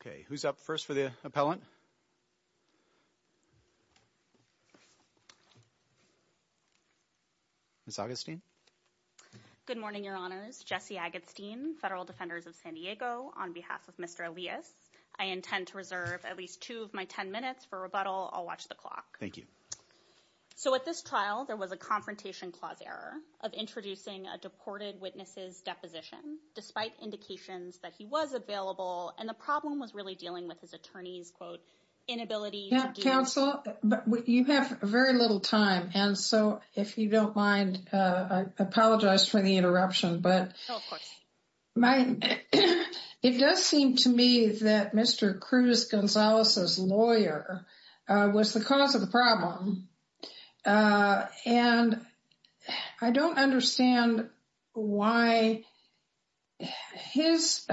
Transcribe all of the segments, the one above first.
Okay, who's up first for the appellant? Ms. Agatstein? Good morning, Your Honors. Jesse Agatstein, Federal Defenders of San Diego, on behalf of Mr. Elias. I intend to reserve at least two of my ten minutes for rebuttal. I'll watch the clock. Thank you. So at this trial, there was a confrontation clause error of introducing a deported witnesses deposition despite indications that he was available and the problem was really dealing with his attorney's quote, inability to counsel, but you have very little time. And so if you don't mind, I apologize for the interruption. But it does seem to me that Mr. Cruz Gonzalez's lawyer was the cause of the problem. And I don't understand why his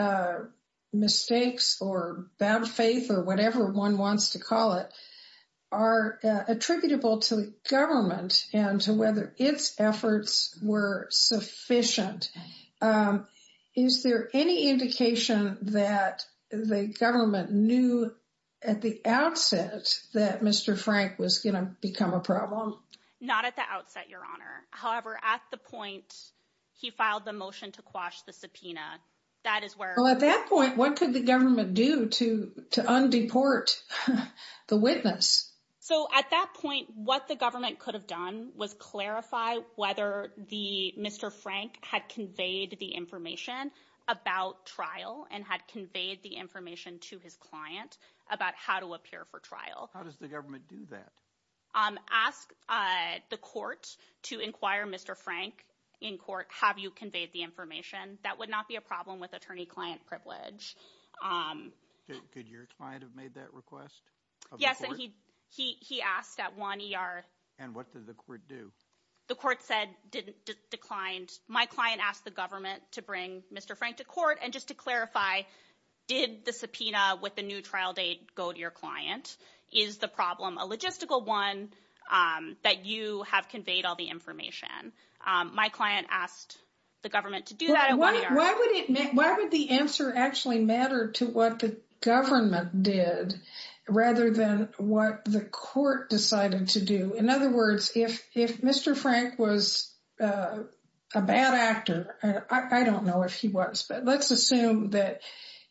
mistakes or bad faith or whatever one wants to call it, are attributable to the government and to whether its efforts were sufficient. Is there any indication that the government knew at the outset that Mr. Frank was going to become a problem? Not at the outset, Your Honor. However, at the point, he filed the motion to quash the subpoena. That is where at that point, what could the government do to undeport the witness? So at that point, what the government could have done was clarify whether the Mr. Frank had conveyed the information about trial and had conveyed the information to his client about how to appear for trial. How does the government do that? Ask the court to inquire Mr. Frank in court, have you conveyed the information? That would not be a problem with attorney client privilege. Could your client have made that request? Yes. And he asked at one ER. And what did the court do? The court said, declined. My client asked the government to bring Mr. Frank to court. And just to clarify, did the subpoena with the new trial date go to your client? Is the problem a logistical one that you have conveyed all the information? My client asked the government to do that. Why would the answer actually matter to what the government did rather than what the court decided to do? In other words, if Mr. Frank was a bad actor, I don't know if he was, but let's assume that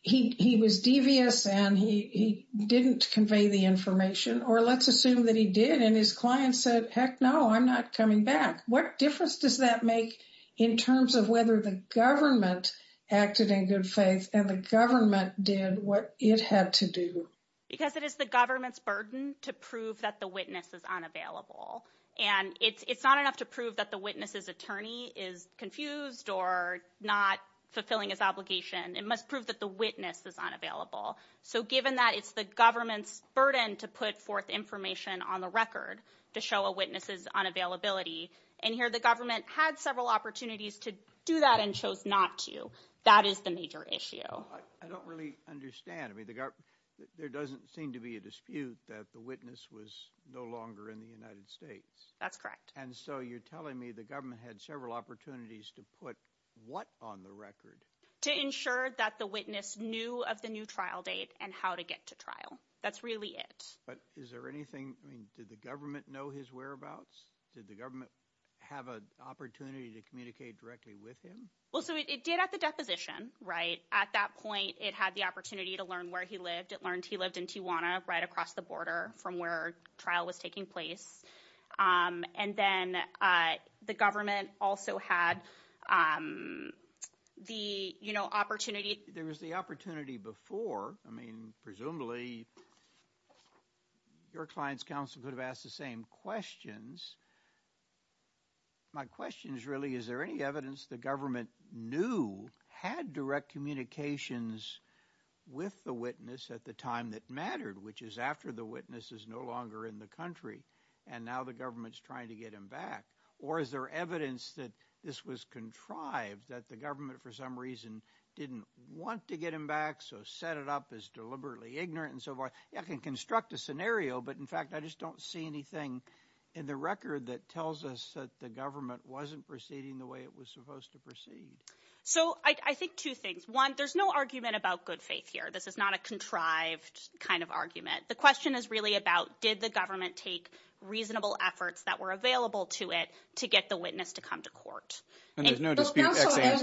he was devious and he didn't convey the information or let's assume that he did and his client said, heck no, I'm not coming back. What difference does that make in terms of whether the government acted in good faith and the government did what it had to do? Because it is the government's burden to prove that the witness is unavailable. And it's not enough to prove that the witness's attorney is confused or not fulfilling his obligation. It must prove that the witness is unavailable. So given that it's the government's burden to put forth information on the record to show a witness's unavailability. And here the government had several opportunities to do that and chose not to. That is the major issue. I don't really understand. I mean, there doesn't seem to be a dispute that the witness was no longer in the United States. That's correct. And so you're telling me the government had several opportunities to put what on the record? To ensure that the witness knew of the new trial date and how to get to trial. That's really it. But is there anything, I mean, did the government know his whereabouts? Did the government have an opportunity to communicate directly with him? Well, so it did at the deposition, right? At that point, it had the opportunity to learn where he lived. It learned he lived in Tijuana, right across the border from where trial was taking place. And then the government also had the opportunity. There was the opportunity before. I mean, presumably, your client's counsel could have asked the same questions. My question is really, is there any evidence the government knew had direct communications with the witness at the time that mattered, which is after the witness is no longer in the country, and now the government's trying to get him back? Or is there evidence that this was contrived, that the government for some reason didn't want to get him back, so set it up as deliberately ignorant and so forth? I can construct a scenario, but in fact, I just don't see anything in the record that tells us that the government wasn't proceeding the way it was supposed to proceed. So I think two things. One, there's no argument about good faith here. This is not a contrived kind of argument. The question is really about, did the government take reasonable efforts that were available to it to get the witness to come to court? And there's no dispute.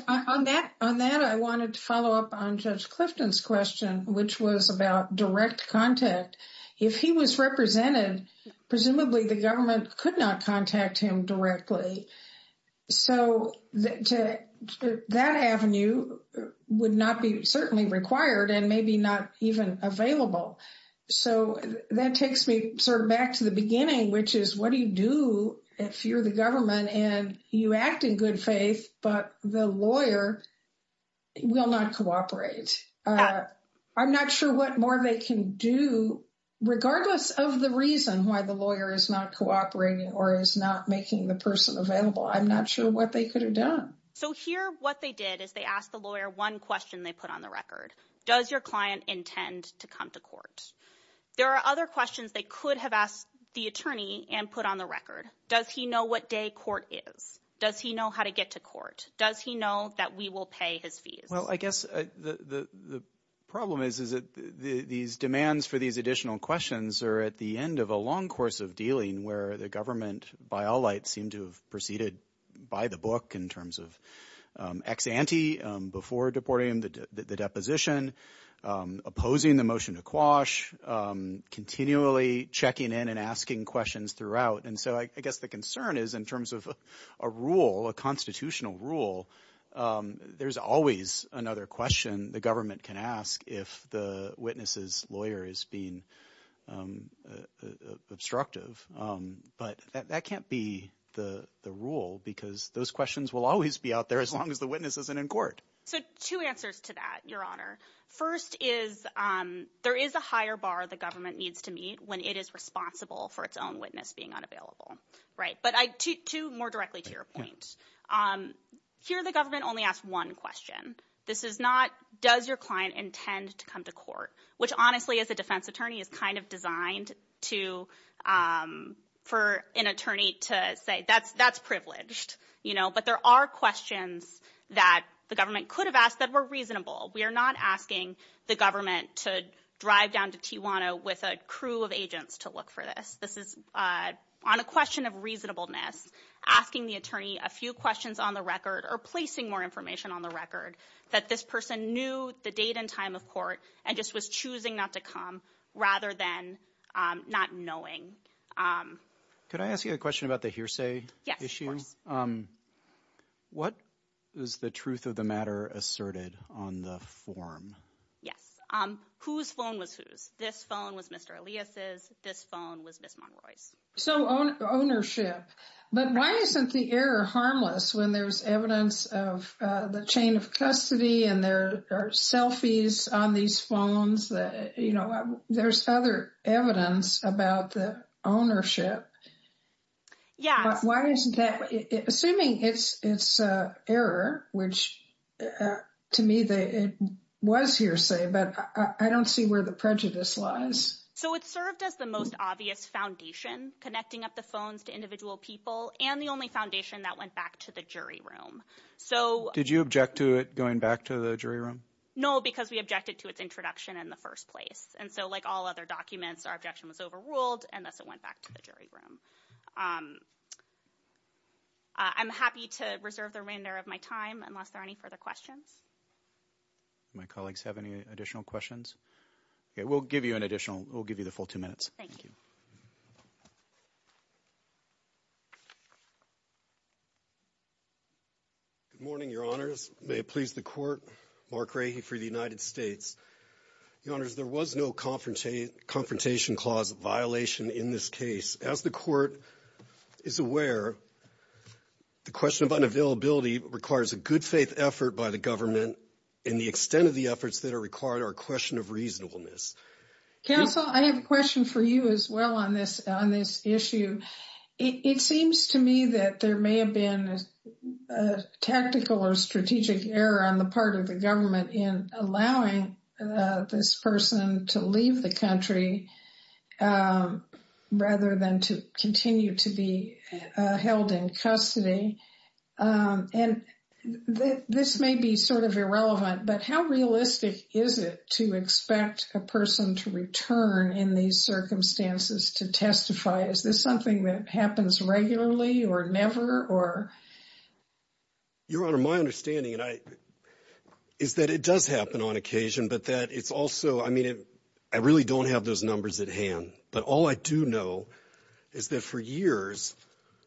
On that, I wanted to follow up on Judge Clifton's question, which was about direct contact. If he was represented, presumably, the government could not contact him directly. So that avenue would not be certainly required and maybe not even available. So that takes me sort of back to the beginning, which is what do you do if you're the government and you act in good faith, but the lawyer will not cooperate? I'm not sure what more they can do, regardless of the reason why the lawyer is not cooperating or is not making the person available. I'm not sure what they could have done. So here, what they did is they asked the lawyer one question they put on the record. Does your client intend to come to court? There are other questions they could have asked the attorney and put on the record. Does he know what day court is? Does he know how to get to court? Does he know that we will pay his fees? Well, I guess the problem is that these demands for these additional questions are at the end of a long course of dealing where the government, by all lights, seemed to have proceeded by the book in terms of ex ante, before deporting him, the deposition, opposing the motion to quash, continually checking in and asking questions throughout. And so I guess the concern is in terms of a rule, a constitutional rule, there's always another question the government can ask if the witness's lawyer is being obstructive. But that can't be the rule because those questions will always be out there as long as the witness isn't in court. So two answers to that, Your Honor. First is there is a higher bar the government needs to meet when it is responsible for its own witness being unavailable, right? But two more directly to your point. Here, the government only asked one question. This is not does your client intend to come to court, which honestly, as a defense attorney, is kind of designed for an attorney to privilege. But there are questions that the government could have asked that were reasonable. We are not asking the government to drive down to Tijuana with a crew of agents to look for this. This is on a question of reasonableness, asking the attorney a few questions on the record or placing more information on the record that this person knew the date and time of court and just was choosing not to come rather than not knowing. Can I ask you a question about the hearsay issue? Yes, of course. What is the truth of the matter asserted on the form? Yes. Whose phone was whose? This phone was Mr. Elias's. This phone was Ms. Monroy's. So ownership. But why isn't the error harmless when there's evidence of the chain of custody and there are selfies on these phones that there's other evidence about the ownership? Yeah. Why isn't that? Assuming it's error, which to me, it was hearsay, but I don't see where the prejudice lies. So it's served as the most obvious foundation connecting up the phones to individual people and the only foundation that went back to the jury room. So did you object to it going back to the jury room? No, because we objected to its introduction in the first place. And so like all other documents, our objection was overruled and thus it went back to the jury room. I'm happy to reserve the remainder of my time unless there are any further questions. My colleagues have any additional questions? We'll give you an additional. We'll give you the full two minutes. Thank you. Good morning, Your Honors. May it please the court. Mark Rahe for the United States. Your Honors, there was no confrontation clause violation in this case. As the court is aware, the question of unavailability requires a good faith effort by the government in the extent of the efforts that are required are a question of reasonableness. Counsel, I have a question for you as well on this issue. It seems to me that there may have been a tactical or strategic error on the part of the government in allowing this person to leave the country rather than to continue to be held in custody. And this may be sort of irrelevant, but how realistic is it to expect a person to return in these circumstances to testify? Is this something that happens regularly or never or? Your Honor, my understanding is that it does happen on occasion, but that it's also, I mean, I really don't have those numbers at hand. But all I do know is that for years,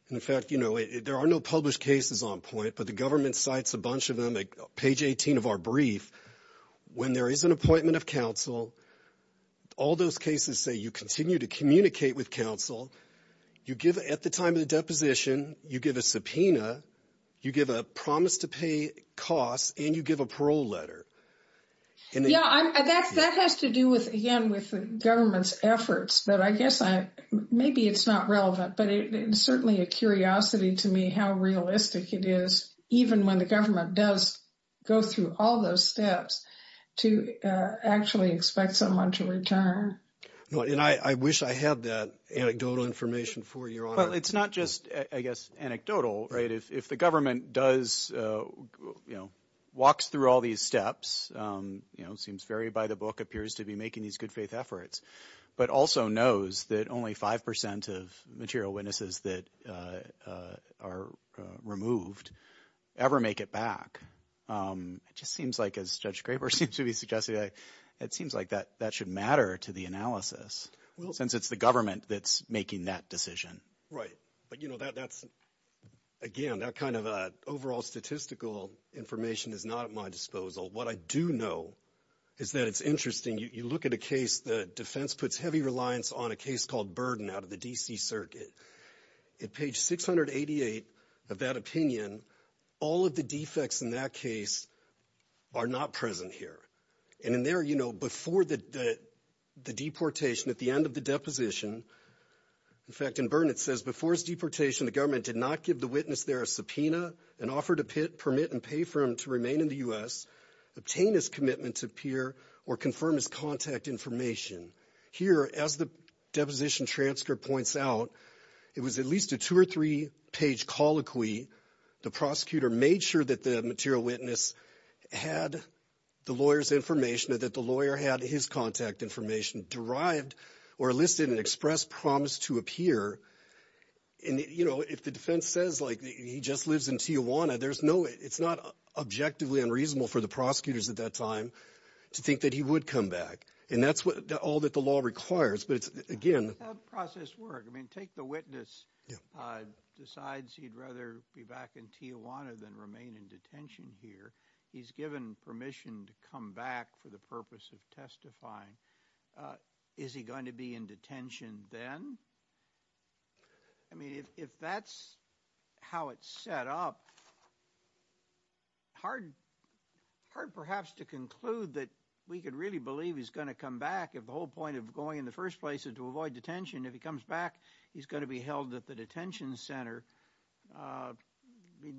in fact, you know, there are no published cases on point, but the brief, when there is an appointment of counsel, all those cases say you continue to communicate with counsel, you give at the time of the deposition, you give a subpoena, you give a promise to pay costs and you give a parole letter. Yeah, that has to do with, again, with the government's efforts, but I guess I, maybe it's not relevant, but it's certainly a curiosity to me how realistic it is, even when the government does go through all those steps to actually expect someone to return. And I wish I had that anecdotal information for your honor. Well, it's not just, I guess, anecdotal, right? If the government does, you know, walks through all these steps, you know, seems very by the book, appears to be making these good faith efforts, but also knows that only 5% of material witnesses that are removed ever make it back. It just seems like, as Judge Graber seems to be suggesting, it seems like that should matter to the analysis, since it's the government that's making that decision. Right. But, you know, that's again, that kind of overall statistical information is not at my disposal. What I do know is that it's interesting. You look at a case, the defense puts heavy reliance on a case called Burden out of the D.C. Circuit. At page 688 of that opinion, all of the defects in that case are not present here. And in there, you know, before the deportation, at the end of the deposition, in fact, in Burnett says, before his deportation, the government did not give the witness there a or confirm his contact information. Here, as the deposition transcript points out, it was at least a two or three page colloquy. The prosecutor made sure that the material witness had the lawyer's information, that the lawyer had his contact information derived or listed and expressed promise to appear. And, you know, if the defense says like he just lives in Tijuana, there's no it's not objectively unreasonable for the prosecutors at that time to think that he would come back. And that's all that the law requires. But again, process work. I mean, take the witness decides he'd rather be back in Tijuana than remain in detention here. He's given permission to come back for the purpose of testifying. Is he going to be in detention then? I mean, if that's how it's set up. Hard, hard, perhaps to conclude that we could really believe he's going to come back if the whole point of going in the first place is to avoid detention. If he comes back, he's going to be held at the detention center.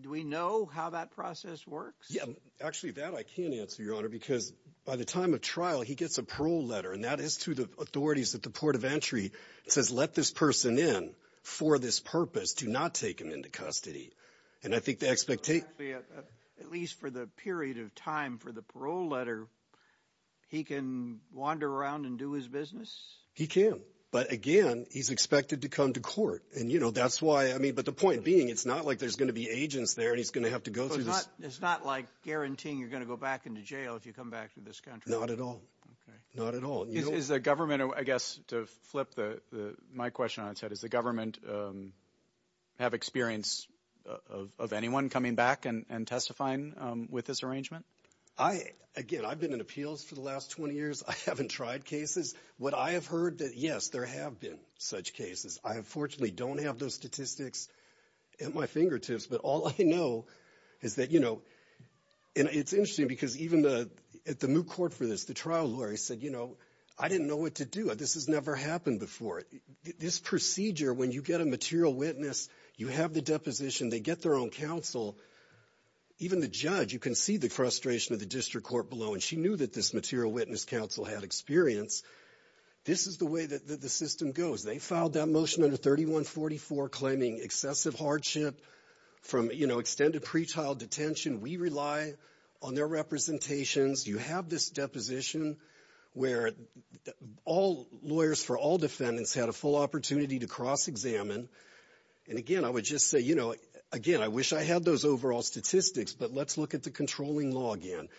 Do we know how that process works? Yeah, actually, that I can answer, Your Honor, because by the time of trial, he gets a parole letter. And that is to the authorities at the port of entry. It says, let this person in for this purpose to not take him into custody. And I think the expectation at least for the period of time for the parole letter, he can wander around and do his business. He can. But again, he's expected to come to court. And, you know, that's why I mean, but the point being, it's not like there's going to be agents there and he's going to have to go through this. It's not like guaranteeing to go back into jail if you come back to this country. Not at all. Not at all. Is the government, I guess, to flip the my question on its head, is the government have experience of anyone coming back and testifying with this arrangement? I again, I've been in appeals for the last 20 years. I haven't tried cases. What I have heard that, yes, there have been such cases. I, unfortunately, don't have those statistics at my fingertips. But all I know is that, you know, and it's interesting because even the at the moot court for this, the trial lawyer said, you know, I didn't know what to do. This has never happened before. This procedure, when you get a material witness, you have the deposition, they get their own counsel. Even the judge, you can see the frustration of the district court below. And she knew that this material witness counsel had experience. This is the way that the system goes. They filed that motion under 3144 claiming excessive hardship from, you know, extended pretrial detention. We rely on their representations. You have this deposition where all lawyers for all defendants had a full opportunity to cross examine. And again, I would just say, you know, again, I wish I had those overall statistics, but let's look at the controlling law again.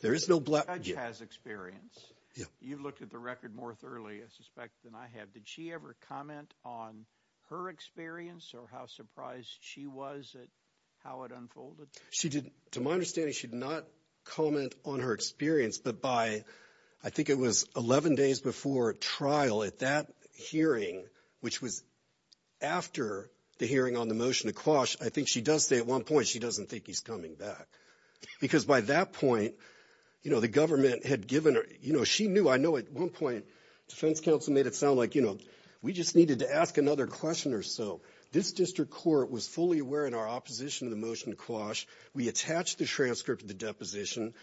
There is no black judge has experience. You've looked at the record more thoroughly, I suspect, than I have. Did she ever comment on her experience or how surprised she was at how it unfolded? She did. To my understanding, she did not comment on her experience. But by I think it was 11 days before trial at that hearing, which was after the hearing on the motion to quash, I think she does say at one point she doesn't think he's coming back because by that point, you know, the government had given her, you know, she knew. I know at one point defense counsel made it sound like, you know, we just needed to ask another question or so. This district court was fully aware in our opposition to the motion to quash. We attached the transcript of the deposition.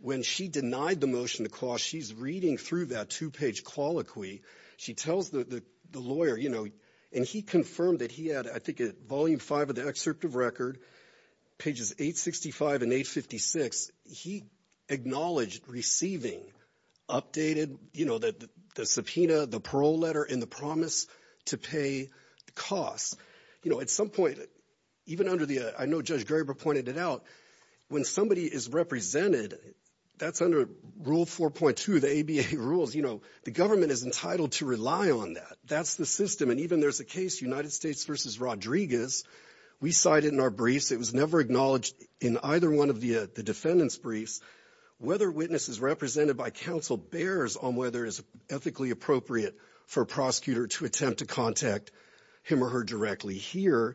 When she denied the motion to quash, she's reading through that two page colloquy. She tells the lawyer, you know, and he confirmed that he had, I think, volume five of the excerpt of record, pages 865 and 856. He acknowledged receiving updated, you know, the subpoena, the parole letter and the promise to pay the costs. You know, at some point, even under the I know Judge Graber pointed it out. When somebody is represented, that's under Rule 4.2 of the ABA rules. You know, the government is entitled to rely on that. That's the system. And even there's a case United States versus Rodriguez. We cited in our briefs. It was never acknowledged in either one of the defendants briefs whether witnesses represented by counsel bears on whether it's ethically appropriate for a prosecutor to attempt to contact him or her directly here.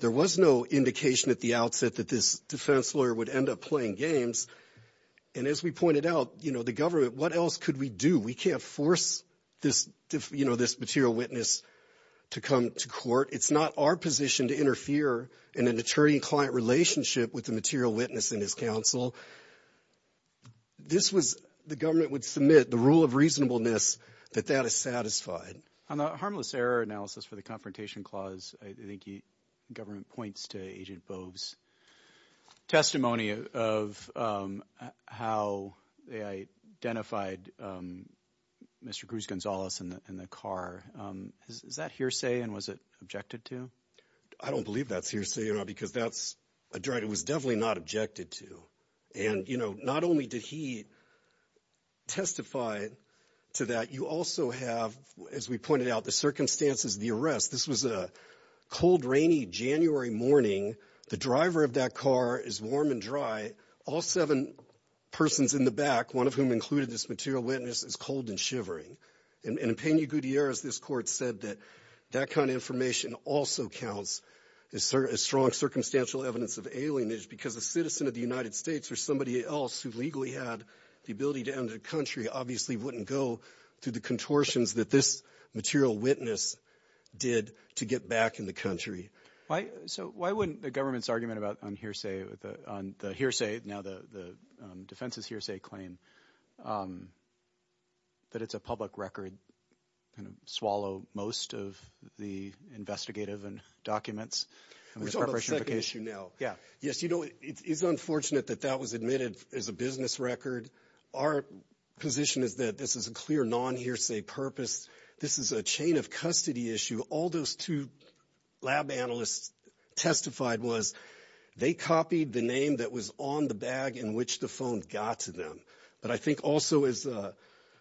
There was no indication at the outset that this defense lawyer would end up playing games. And as we pointed out, you know, the government, what else could we do? We can't force this, you know, this material witness to come to court. It's not our position to interfere in an attorney client relationship with the material witness in his counsel. This was the government would submit the rule of reasonableness that that is satisfied on the harmless error analysis for the Confrontation Clause. I think the government points to Agent Boves testimony of how they identified Mr. Cruz Gonzalez in the car. Is that hearsay? And was it objected to? I don't believe that's hearsay, you know, because that's a drug that was definitely not objected to. And, you know, not only did he testify to that, you also have, as we pointed out, the circumstances of the arrest. This was a cold, rainy January morning. The driver of that car is warm and dry. All seven persons in the back, one of whom included this material witness, is cold and shivering. And in Peña Gutierrez, this court said that that kind of information also counts as strong circumstantial evidence of alienage because a citizen of the United States or somebody else who legally had the ability to enter the country obviously wouldn't go through the contortions that this material witness did to get back in the country. So why wouldn't the government's argument about on hearsay, on the hearsay, now the defense's hearsay claim that it's a public record and swallow most of the investigative and documents? We're talking about the second issue now. Yeah. Yes, you know, it is unfortunate that that was admitted as a business record. Our position is that this is a clear non-hearsay purpose. This is a chain of custody issue. All those two lab analysts testified was they copied the name that was on the bag in which the phone got to them. But I think also as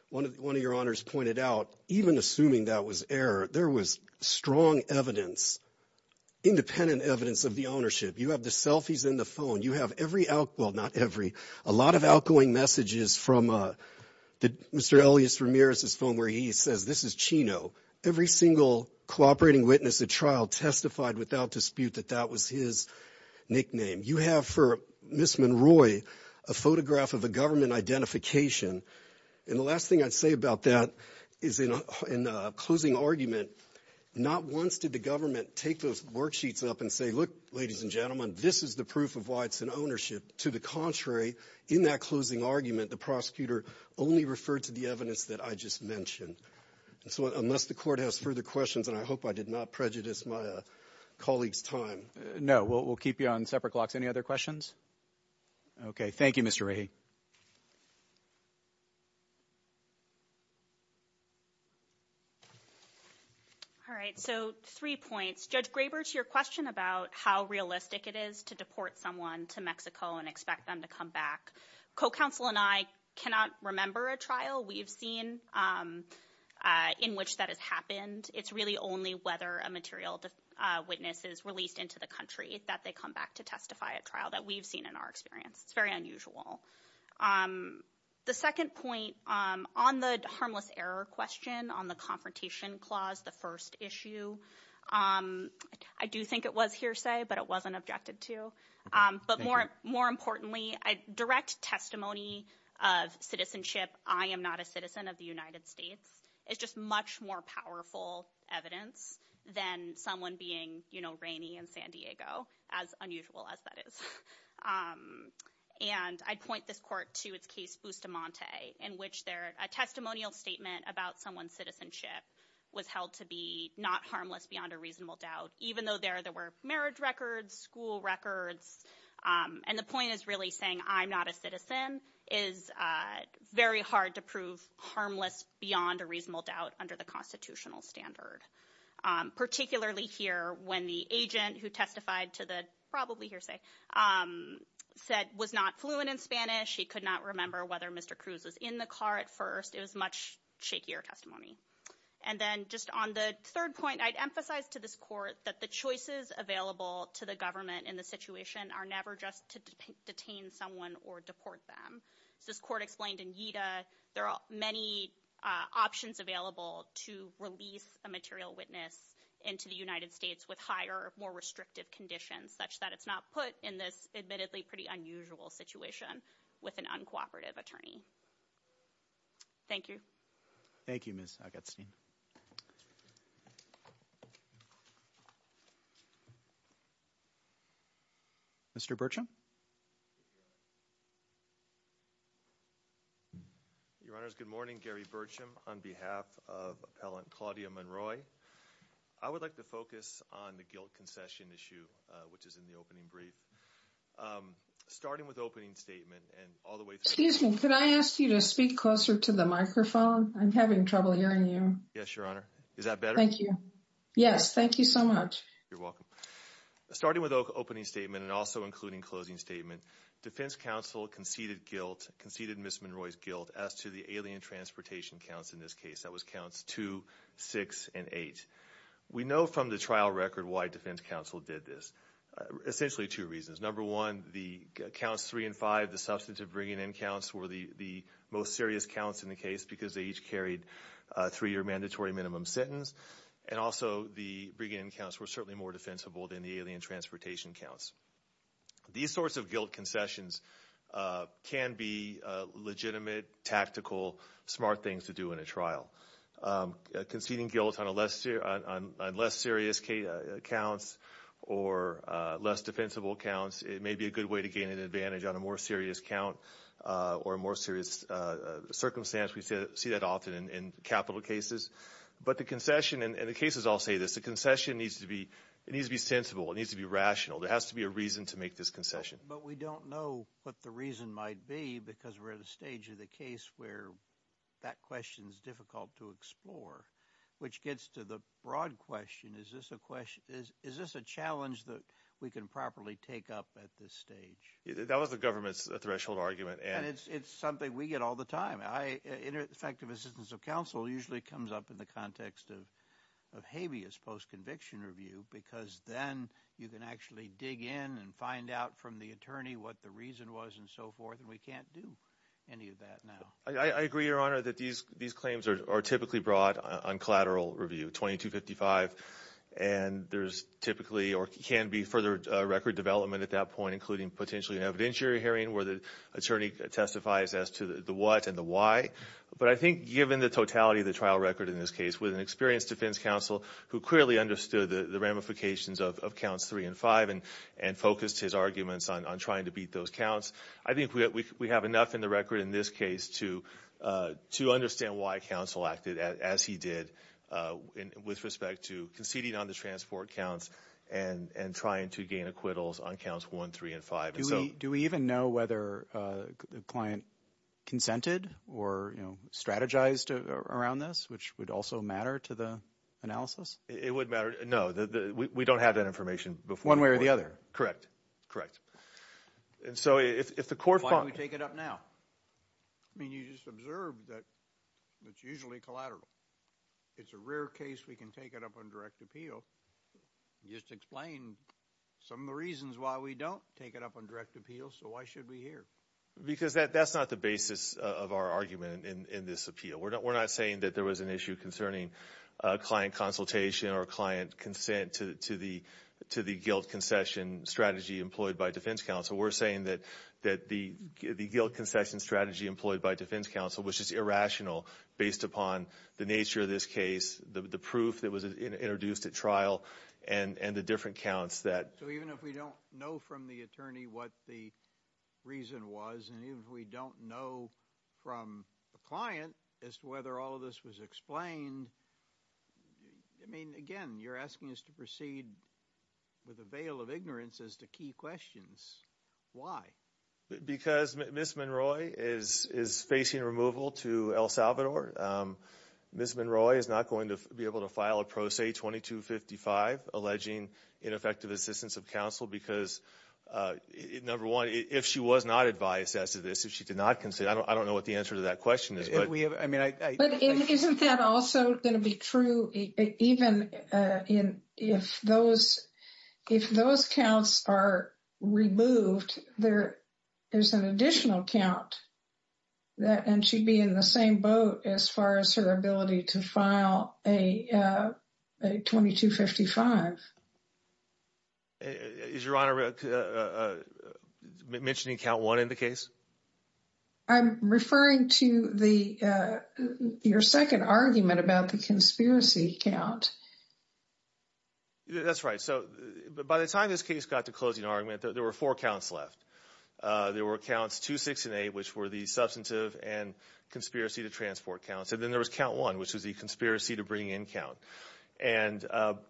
one of your honors pointed out, even assuming that was error, there was strong evidence, independent evidence of the ownership. You have the selfies in the phone. You have every out, well not every, a lot of outgoing messages from Mr. Elias Ramirez's phone where he says, this is Chino. Every single cooperating witness at trial testified without dispute that that was his nickname. You have for Ms. Monroy a photograph of a government identification. And the last thing I'd say about that is in a closing argument, not once did the government take those worksheets up and say, look, ladies and gentlemen, this is the proof of why it's an ownership. To the contrary, in that closing argument, the prosecutor only referred to the evidence that I just mentioned. And so unless the court has further questions, and I hope I did not prejudice my colleagues' time. No, we'll keep you on separate clocks. Any other questions? Okay. Thank you, Mr. Rahy. All right. So three points. Judge Graber, to your question about how realistic it is to deport someone to Mexico and expect them to come back, co-counsel and I cannot remember a trial we've seen in which that has happened. It's really only whether a material witness is released into the country that they come back to testify at trial that we've seen in our experience. It's very unusual. The second point on the harmless error question on the confrontation clause, the first issue, I do think it was hearsay, but it wasn't objected to. But more importantly, direct testimony of citizenship, I am not a citizen of the United States, is just much more powerful evidence than someone being rainy in San Diego, as unusual as that is. And I'd point this court to its case, Bustamante, in which a testimonial statement about someone's citizenship was held to be not harmless beyond a reasonable doubt, even though there were marriage records, school records. And the point is really saying I'm not a citizen is very hard to prove harmless beyond a reasonable doubt under the constitutional standard, particularly here when the agent who testified to the probably hearsay said was not fluent in Spanish. He could not remember whether Mr. Cruz was in the car at first. It was much shakier testimony. And then just on the third point, I'd emphasize to this court that the choices available to the government in the situation are never just to detain someone or deport them. As this court explained in Yeada, there are many options available to release a material witness into the United States with higher, more restrictive conditions, such that it's not put in this admittedly pretty unusual situation with an uncooperative attorney. Thank you. Thank you, Ms. Agatstein. Mr. Bertram. Your Honor, good morning, Gary Bertram. On behalf of appellant Claudia Monroy, I would like to focus on the guilt concession issue, which is in the opening brief, starting with opening statement and all the way. Excuse me. Could I ask you to speak closer to the microphone? I'm having trouble hearing you. Yes, Your Honor. Is that better? Thank you. Yes. Thank you so much. You're welcome. Starting with opening statement and also including closing statement, defense counsel conceded guilt, conceded Ms. Monroy's guilt as to the alien transportation counts in this case. That was counts two, six, and eight. We know from the trial record why defense counsel did this. Essentially two reasons. Number one, the counts three and five, the substantive bringing in counts were the most serious counts in the case because they each carried a three-year mandatory minimum sentence. And also, the bringing in counts were certainly more defensible than the alien transportation counts. These sorts of guilt concessions can be legitimate, tactical, smart things to do in a trial. Conceding guilt on less serious counts or less defensible counts, it may be a good way to see that often in capital cases. But the concession, and the cases all say this, the concession needs to be sensible. It needs to be rational. There has to be a reason to make this concession. But we don't know what the reason might be because we're at a stage of the case where that question is difficult to explore, which gets to the broad question. Is this a challenge that we can properly take up at this stage? That was the government's threshold argument. And it's something we get all the time. Effective assistance of counsel usually comes up in the context of habeas post-conviction review because then you can actually dig in and find out from the attorney what the reason was and so forth. And we can't do any of that now. I agree, Your Honor, that these claims are typically brought on collateral review, 2255. And there's typically or can be further record development at that point, including potentially an evidentiary hearing where the attorney testifies as to the what and the why. But I think given the totality of the trial record in this case with an experienced defense counsel who clearly understood the ramifications of counts three and five and focused his arguments on trying to beat those counts, I think we have enough in the record in this case to understand why counsel acted as he did with respect to conceding on the transport counts and trying to gain acquittals on counts one, three, and five. Do we even know whether the client consented or, you know, strategized around this, which would also matter to the analysis? It would matter. No, we don't have that information before. One way or the other. Correct. Correct. And so if the court... Why don't we take it up now? I mean, you just observed that it's usually collateral. It's a rare case we can take it up on direct appeal. Just explain some of the reasons why we don't take it up on direct appeal. So why should we hear? Because that's not the basis of our argument in this appeal. We're not saying that there was an issue concerning client consultation or client consent to the guilt concession strategy employed by defense counsel. We're saying that the guilt concession strategy employed by defense counsel was just irrational based upon the nature of this case, the proof that was introduced at trial, and the different counts that... So even if we don't know from the attorney what the reason was, and even if we don't know from the client as to whether all of this was explained, I mean, again, you're asking us to proceed with a veil of ignorance as to key questions. Why? Because Ms. Monroy is facing removal to El Salvador. Ms. Monroy is not going to be able to file a Pro Se 2255 alleging ineffective assistance of counsel because, number one, if she was not advised as to this, if she did not consent, I don't know what the answer to that question is. But isn't that also going to be true even if those counts are removed, there's an additional count, and she'd be in the same boat as far as her ability to file a 2255. Is your honor mentioning count one in the case? I'm referring to the your second argument about the conspiracy count. That's right. So by the time this case got to closing argument, there were four counts left. There were counts two, six, and eight, which were the substantive and conspiracy to transport counts. And then there was count one, which was the conspiracy to bring in count. And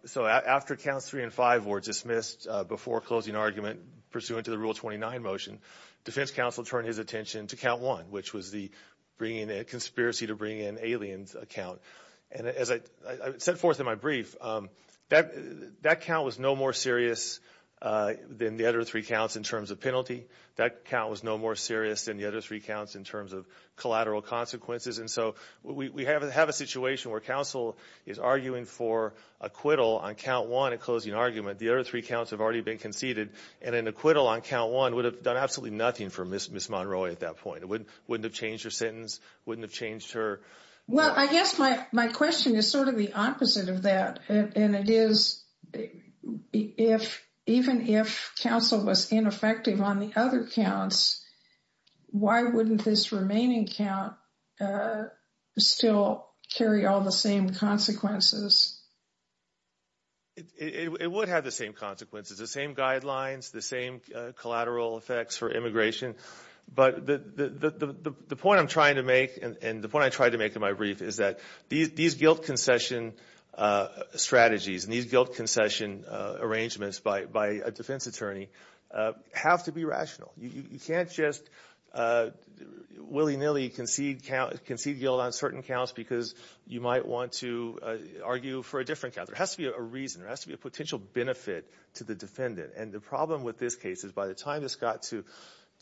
so after counts three and five were dismissed before closing argument pursuant to the Rule 29 motion, defense counsel turned his attention to count one, which was the conspiracy to bring in aliens account. And as I set forth in my brief, that count was no more serious than the other three counts in terms of penalty. That count was no more serious than the other three counts in terms of collateral consequences. And so we have a situation where counsel is arguing for acquittal on count one at closing argument. The other three counts have already been conceded, and an acquittal on count one would have done absolutely nothing for Ms. Monroy at that point. It wouldn't have changed her sentence, wouldn't have changed her. Well, I guess my question is sort of the opposite of that. And it is, if, even if counsel was ineffective on the other counts, why wouldn't this remaining count still carry all the same consequences? It would have the same consequences, the same guidelines, the same collateral effects for immigration. But the point I'm trying to make, and the point I tried to make in my brief, is that these guilt concession strategies and these guilt concession arrangements by a defense attorney have to be rational. You can't just willy-nilly concede guilt on certain counts because you might want to argue for a different count. There has to be a reason. There has to be a potential benefit to the defendant. And the problem with this case is by the time this got to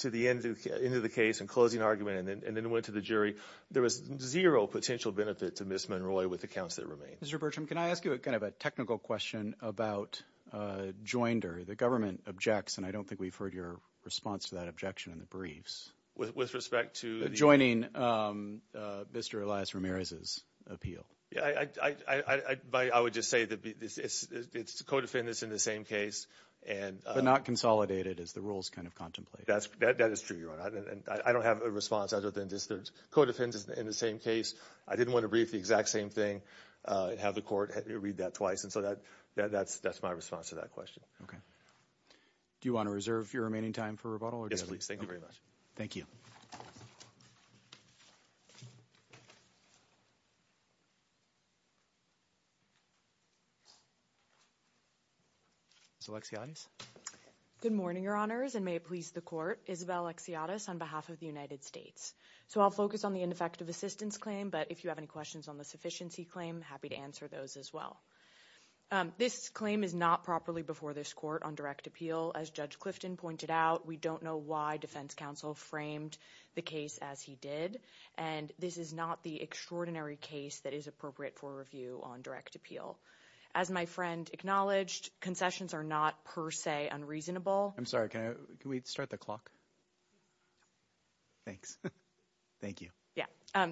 the end of the case and closing argument and then went to the jury, there was zero potential benefit to Ms. Monroy with the counts that remained. Mr. Bertram, can I ask you a kind of a technical question about Joinder? The government objects, and I don't think we've heard your response to that objection in the briefs. With respect to? Joining Mr. Elias Ramirez's appeal. Yeah, I would just say that it's co-defendants in the same case. But not consolidated as the rules kind of contemplate. That is true, Your Honor. I don't have a response other than just co-defendants in the same case. I didn't want to brief the exact same thing and have the court read that twice. And so that's my response to that question. Okay. Do you want to reserve your remaining time for rebuttal? Yes, please. Thank you very much. Thank you. Ms. Alexiades? Good morning, Your Honors, and may it please the court. Isabel Alexiades on behalf of the United States. So I'll focus on the ineffective assistance claim, but if you have any questions on the sufficiency claim, happy to answer those as well. This claim is not properly before this court on direct appeal. As Judge Clifton pointed out, we don't know why defense framed the case as he did, and this is not the extraordinary case that is appropriate for review on direct appeal. As my friend acknowledged, concessions are not per se unreasonable. I'm sorry, can we start the clock? Thanks. Thank you. Yeah.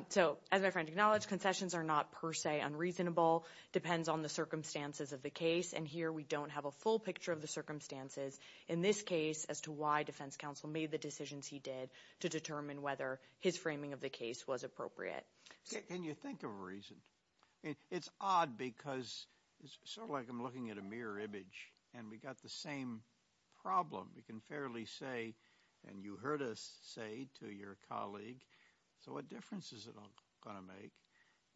So as my friend acknowledged, concessions are not per se unreasonable. Depends on the circumstances of the case. And here we don't have a full picture of the determine whether his framing of the case was appropriate. Can you think of a reason? It's odd because it's sort of like I'm looking at a mirror image, and we got the same problem. We can fairly say, and you heard us say to your colleague, so what difference is it going to make?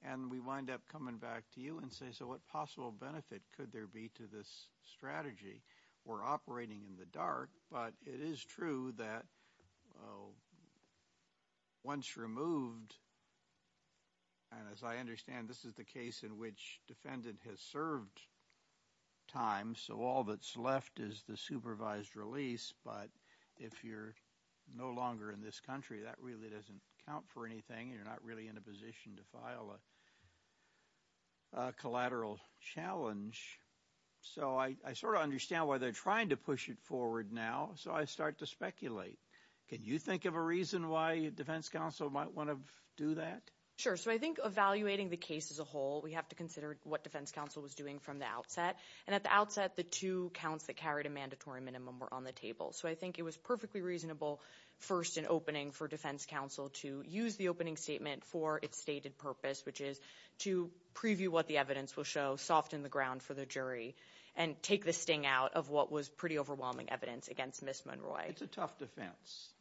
And we wind up coming back to you and say, so what possible benefit could there be to this strategy? We're operating in the dark, but it is true that once removed, and as I understand, this is the case in which defendant has served time, so all that's left is the supervised release. But if you're no longer in this country, that really doesn't count for anything. You're not really in a position to file a collateral challenge. So I sort of understand why they're trying to push it forward now, so I start to speculate. Can you think of a reason why defense counsel might want to do that? Sure. So I think evaluating the case as a whole, we have to consider what defense counsel was doing from the outset. And at the outset, the two counts that carried a mandatory minimum were on the table. So I think it was perfectly reasonable first in opening for defense counsel to use the opening statement for its stated purpose, which is to preview what the evidence will show, soften the ground for the jury, and take the sting out of what was pretty overwhelming evidence against Ms. Monroy. It's a tough defense.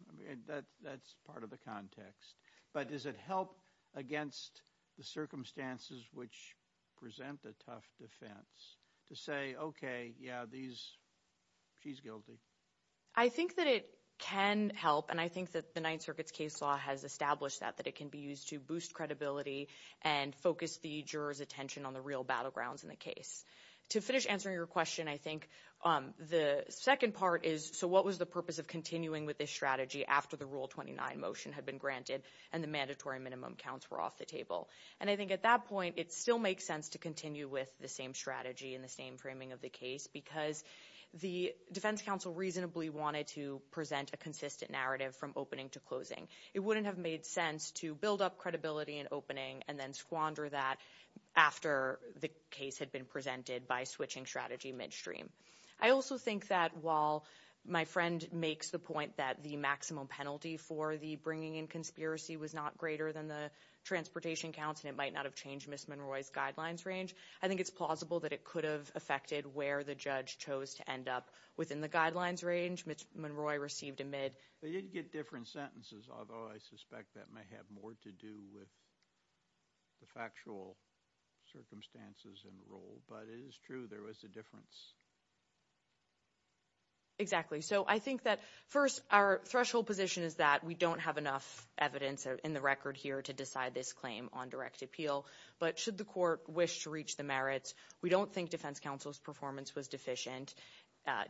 That's part of the context. But does it help against the circumstances which present a tough defense to say, okay, yeah, she's guilty? I think that it can help, and I think that the Ninth Circuit's case law has established that, that it can be used to boost credibility and focus the juror's attention on the real battlegrounds in the case. To finish answering your question, I think the second part is, so what was the purpose of continuing with this strategy after the Rule 29 motion had been granted and the mandatory minimum counts were off the table? And I think at that point, it still makes sense to continue with the same strategy and the same framing of the case because the defense counsel reasonably wanted to present a consistent narrative from opening to closing. It wouldn't have made sense to build up credibility in opening and then squander that after the case had been presented by switching strategy midstream. I also think that while my friend makes the point that the maximum penalty for the bringing in conspiracy was not greater than the transportation counts and it might not have changed Ms. Monroy's guidelines range, I think it's plausible that it could have affected where the judge chose to end up within the guidelines range Ms. Monroy received amid... They did get different sentences, although I suspect that may have more to do with the factual circumstances and rule, but it is true there was a difference. Exactly. So I think that, first, our threshold position is that we don't have enough evidence in the record here to decide this claim on direct appeal. But should the court wish to reach the merits, we don't think defense counsel's performance was deficient.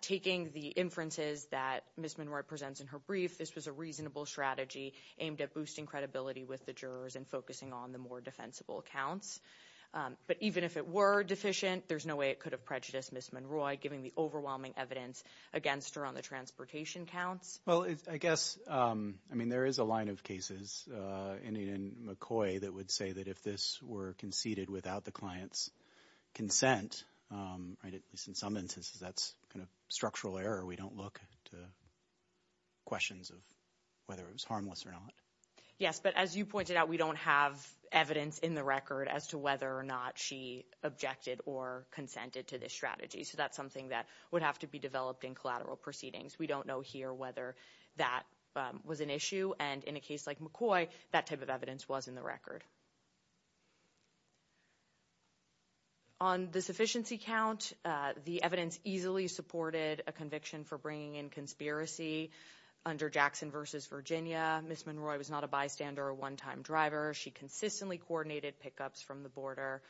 Taking the inferences that Ms. Monroy presents in her brief, this was a reasonable strategy aimed at boosting credibility with the jurors and focusing on the more defensible counts. But even if it were deficient, there's no way it could have prejudiced Ms. Monroy, given the overwhelming evidence against her on the transportation counts. Well, I guess, I mean, there is a line of cases in McCoy that would say that if this were conceded without the client's consent, at least in some instances, that's kind of structural error. We don't look to questions of whether it was harmless or not. Yes, but as you pointed out, we don't have evidence in the record as to whether or not she objected or consented to this strategy. So that's something that would have to be in collateral proceedings. We don't know here whether that was an issue. And in a case like McCoy, that type of evidence was in the record. On the sufficiency count, the evidence easily supported a conviction for bringing in conspiracy under Jackson v. Virginia. Ms. Monroy was not a bystander or a one-time driver. She consistently coordinated pickups from the border,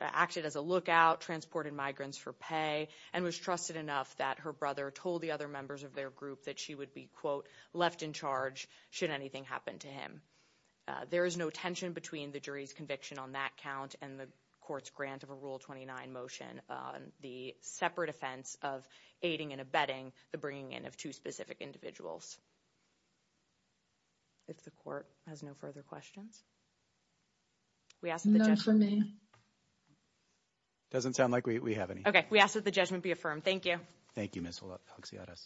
acted as a lookout, transported migrants for pay, and was trusted enough that her brother told the other members of their group that she would be, quote, left in charge should anything happen to him. There is no tension between the jury's conviction on that count and the court's grant of a Rule 29 motion on the separate offense of aiding and abetting the bringing in of two specific individuals. If the court has no further questions. We ask that the judgment be affirmed. No for me. Doesn't sound like we have any. Okay. We ask that the judgment be affirmed. Thank you. Thank you, Ms. Huxiades.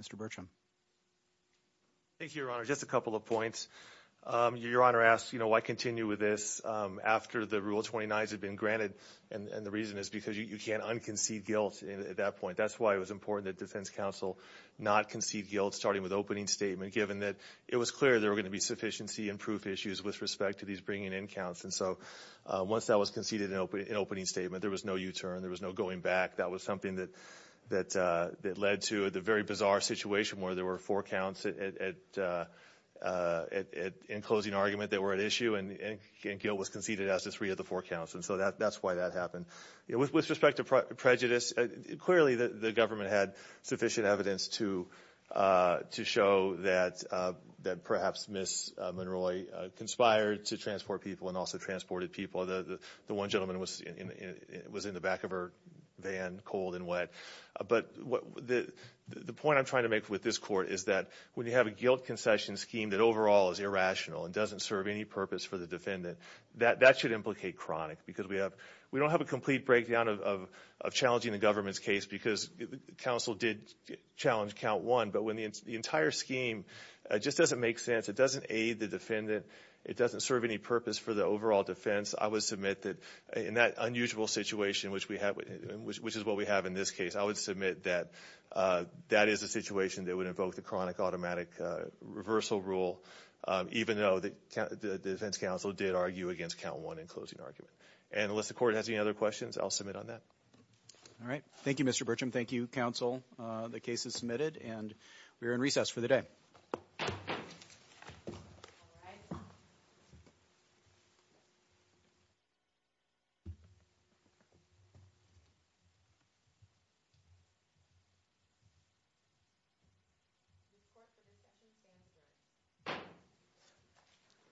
Mr. Bertram. Thank you, Your Honor. Just a couple of points. Your Honor asks, you know, why continue with this after the Rule 29s had been granted? And the reason is because you can't unconcede guilt at that point. That's why it was important that defense counsel not concede guilt, starting with opening statement, given that it was clear there were going to be sufficiency and proof issues with respect to these bringing in counts. And so, once that was conceded in opening statement, there was no U-turn. There was no going back. That was something that led to the very bizarre situation where there were four counts in closing argument that were at issue, and guilt was conceded as the three of the four counts. And so, that's why that happened. With respect to prejudice, clearly the government had sufficient evidence to show that perhaps Ms. Monroy conspired to transport people and also transported people. The one gentleman was in the back of her van, cold and wet. But the point I'm trying to make with this Court is that when you have a guilt concession scheme that overall is irrational and doesn't serve any purpose for the defendant, that should implicate chronic. Because we don't have a complete breakdown of challenging the government's case because counsel did challenge count one. But when the entire scheme just doesn't make sense, it doesn't aid the defendant, it doesn't serve any purpose for the overall defense, I would submit that in that unusual situation, which is what we have in this case, I would submit that that is a situation that would invoke the chronic automatic reversal rule, even though the defense counsel did argue against count one in closing argument. And unless the Court has any other questions, I'll submit on that. All right. Thank you, Mr. Burcham. Thank you, counsel. The case is submitted and we are in recess for the day.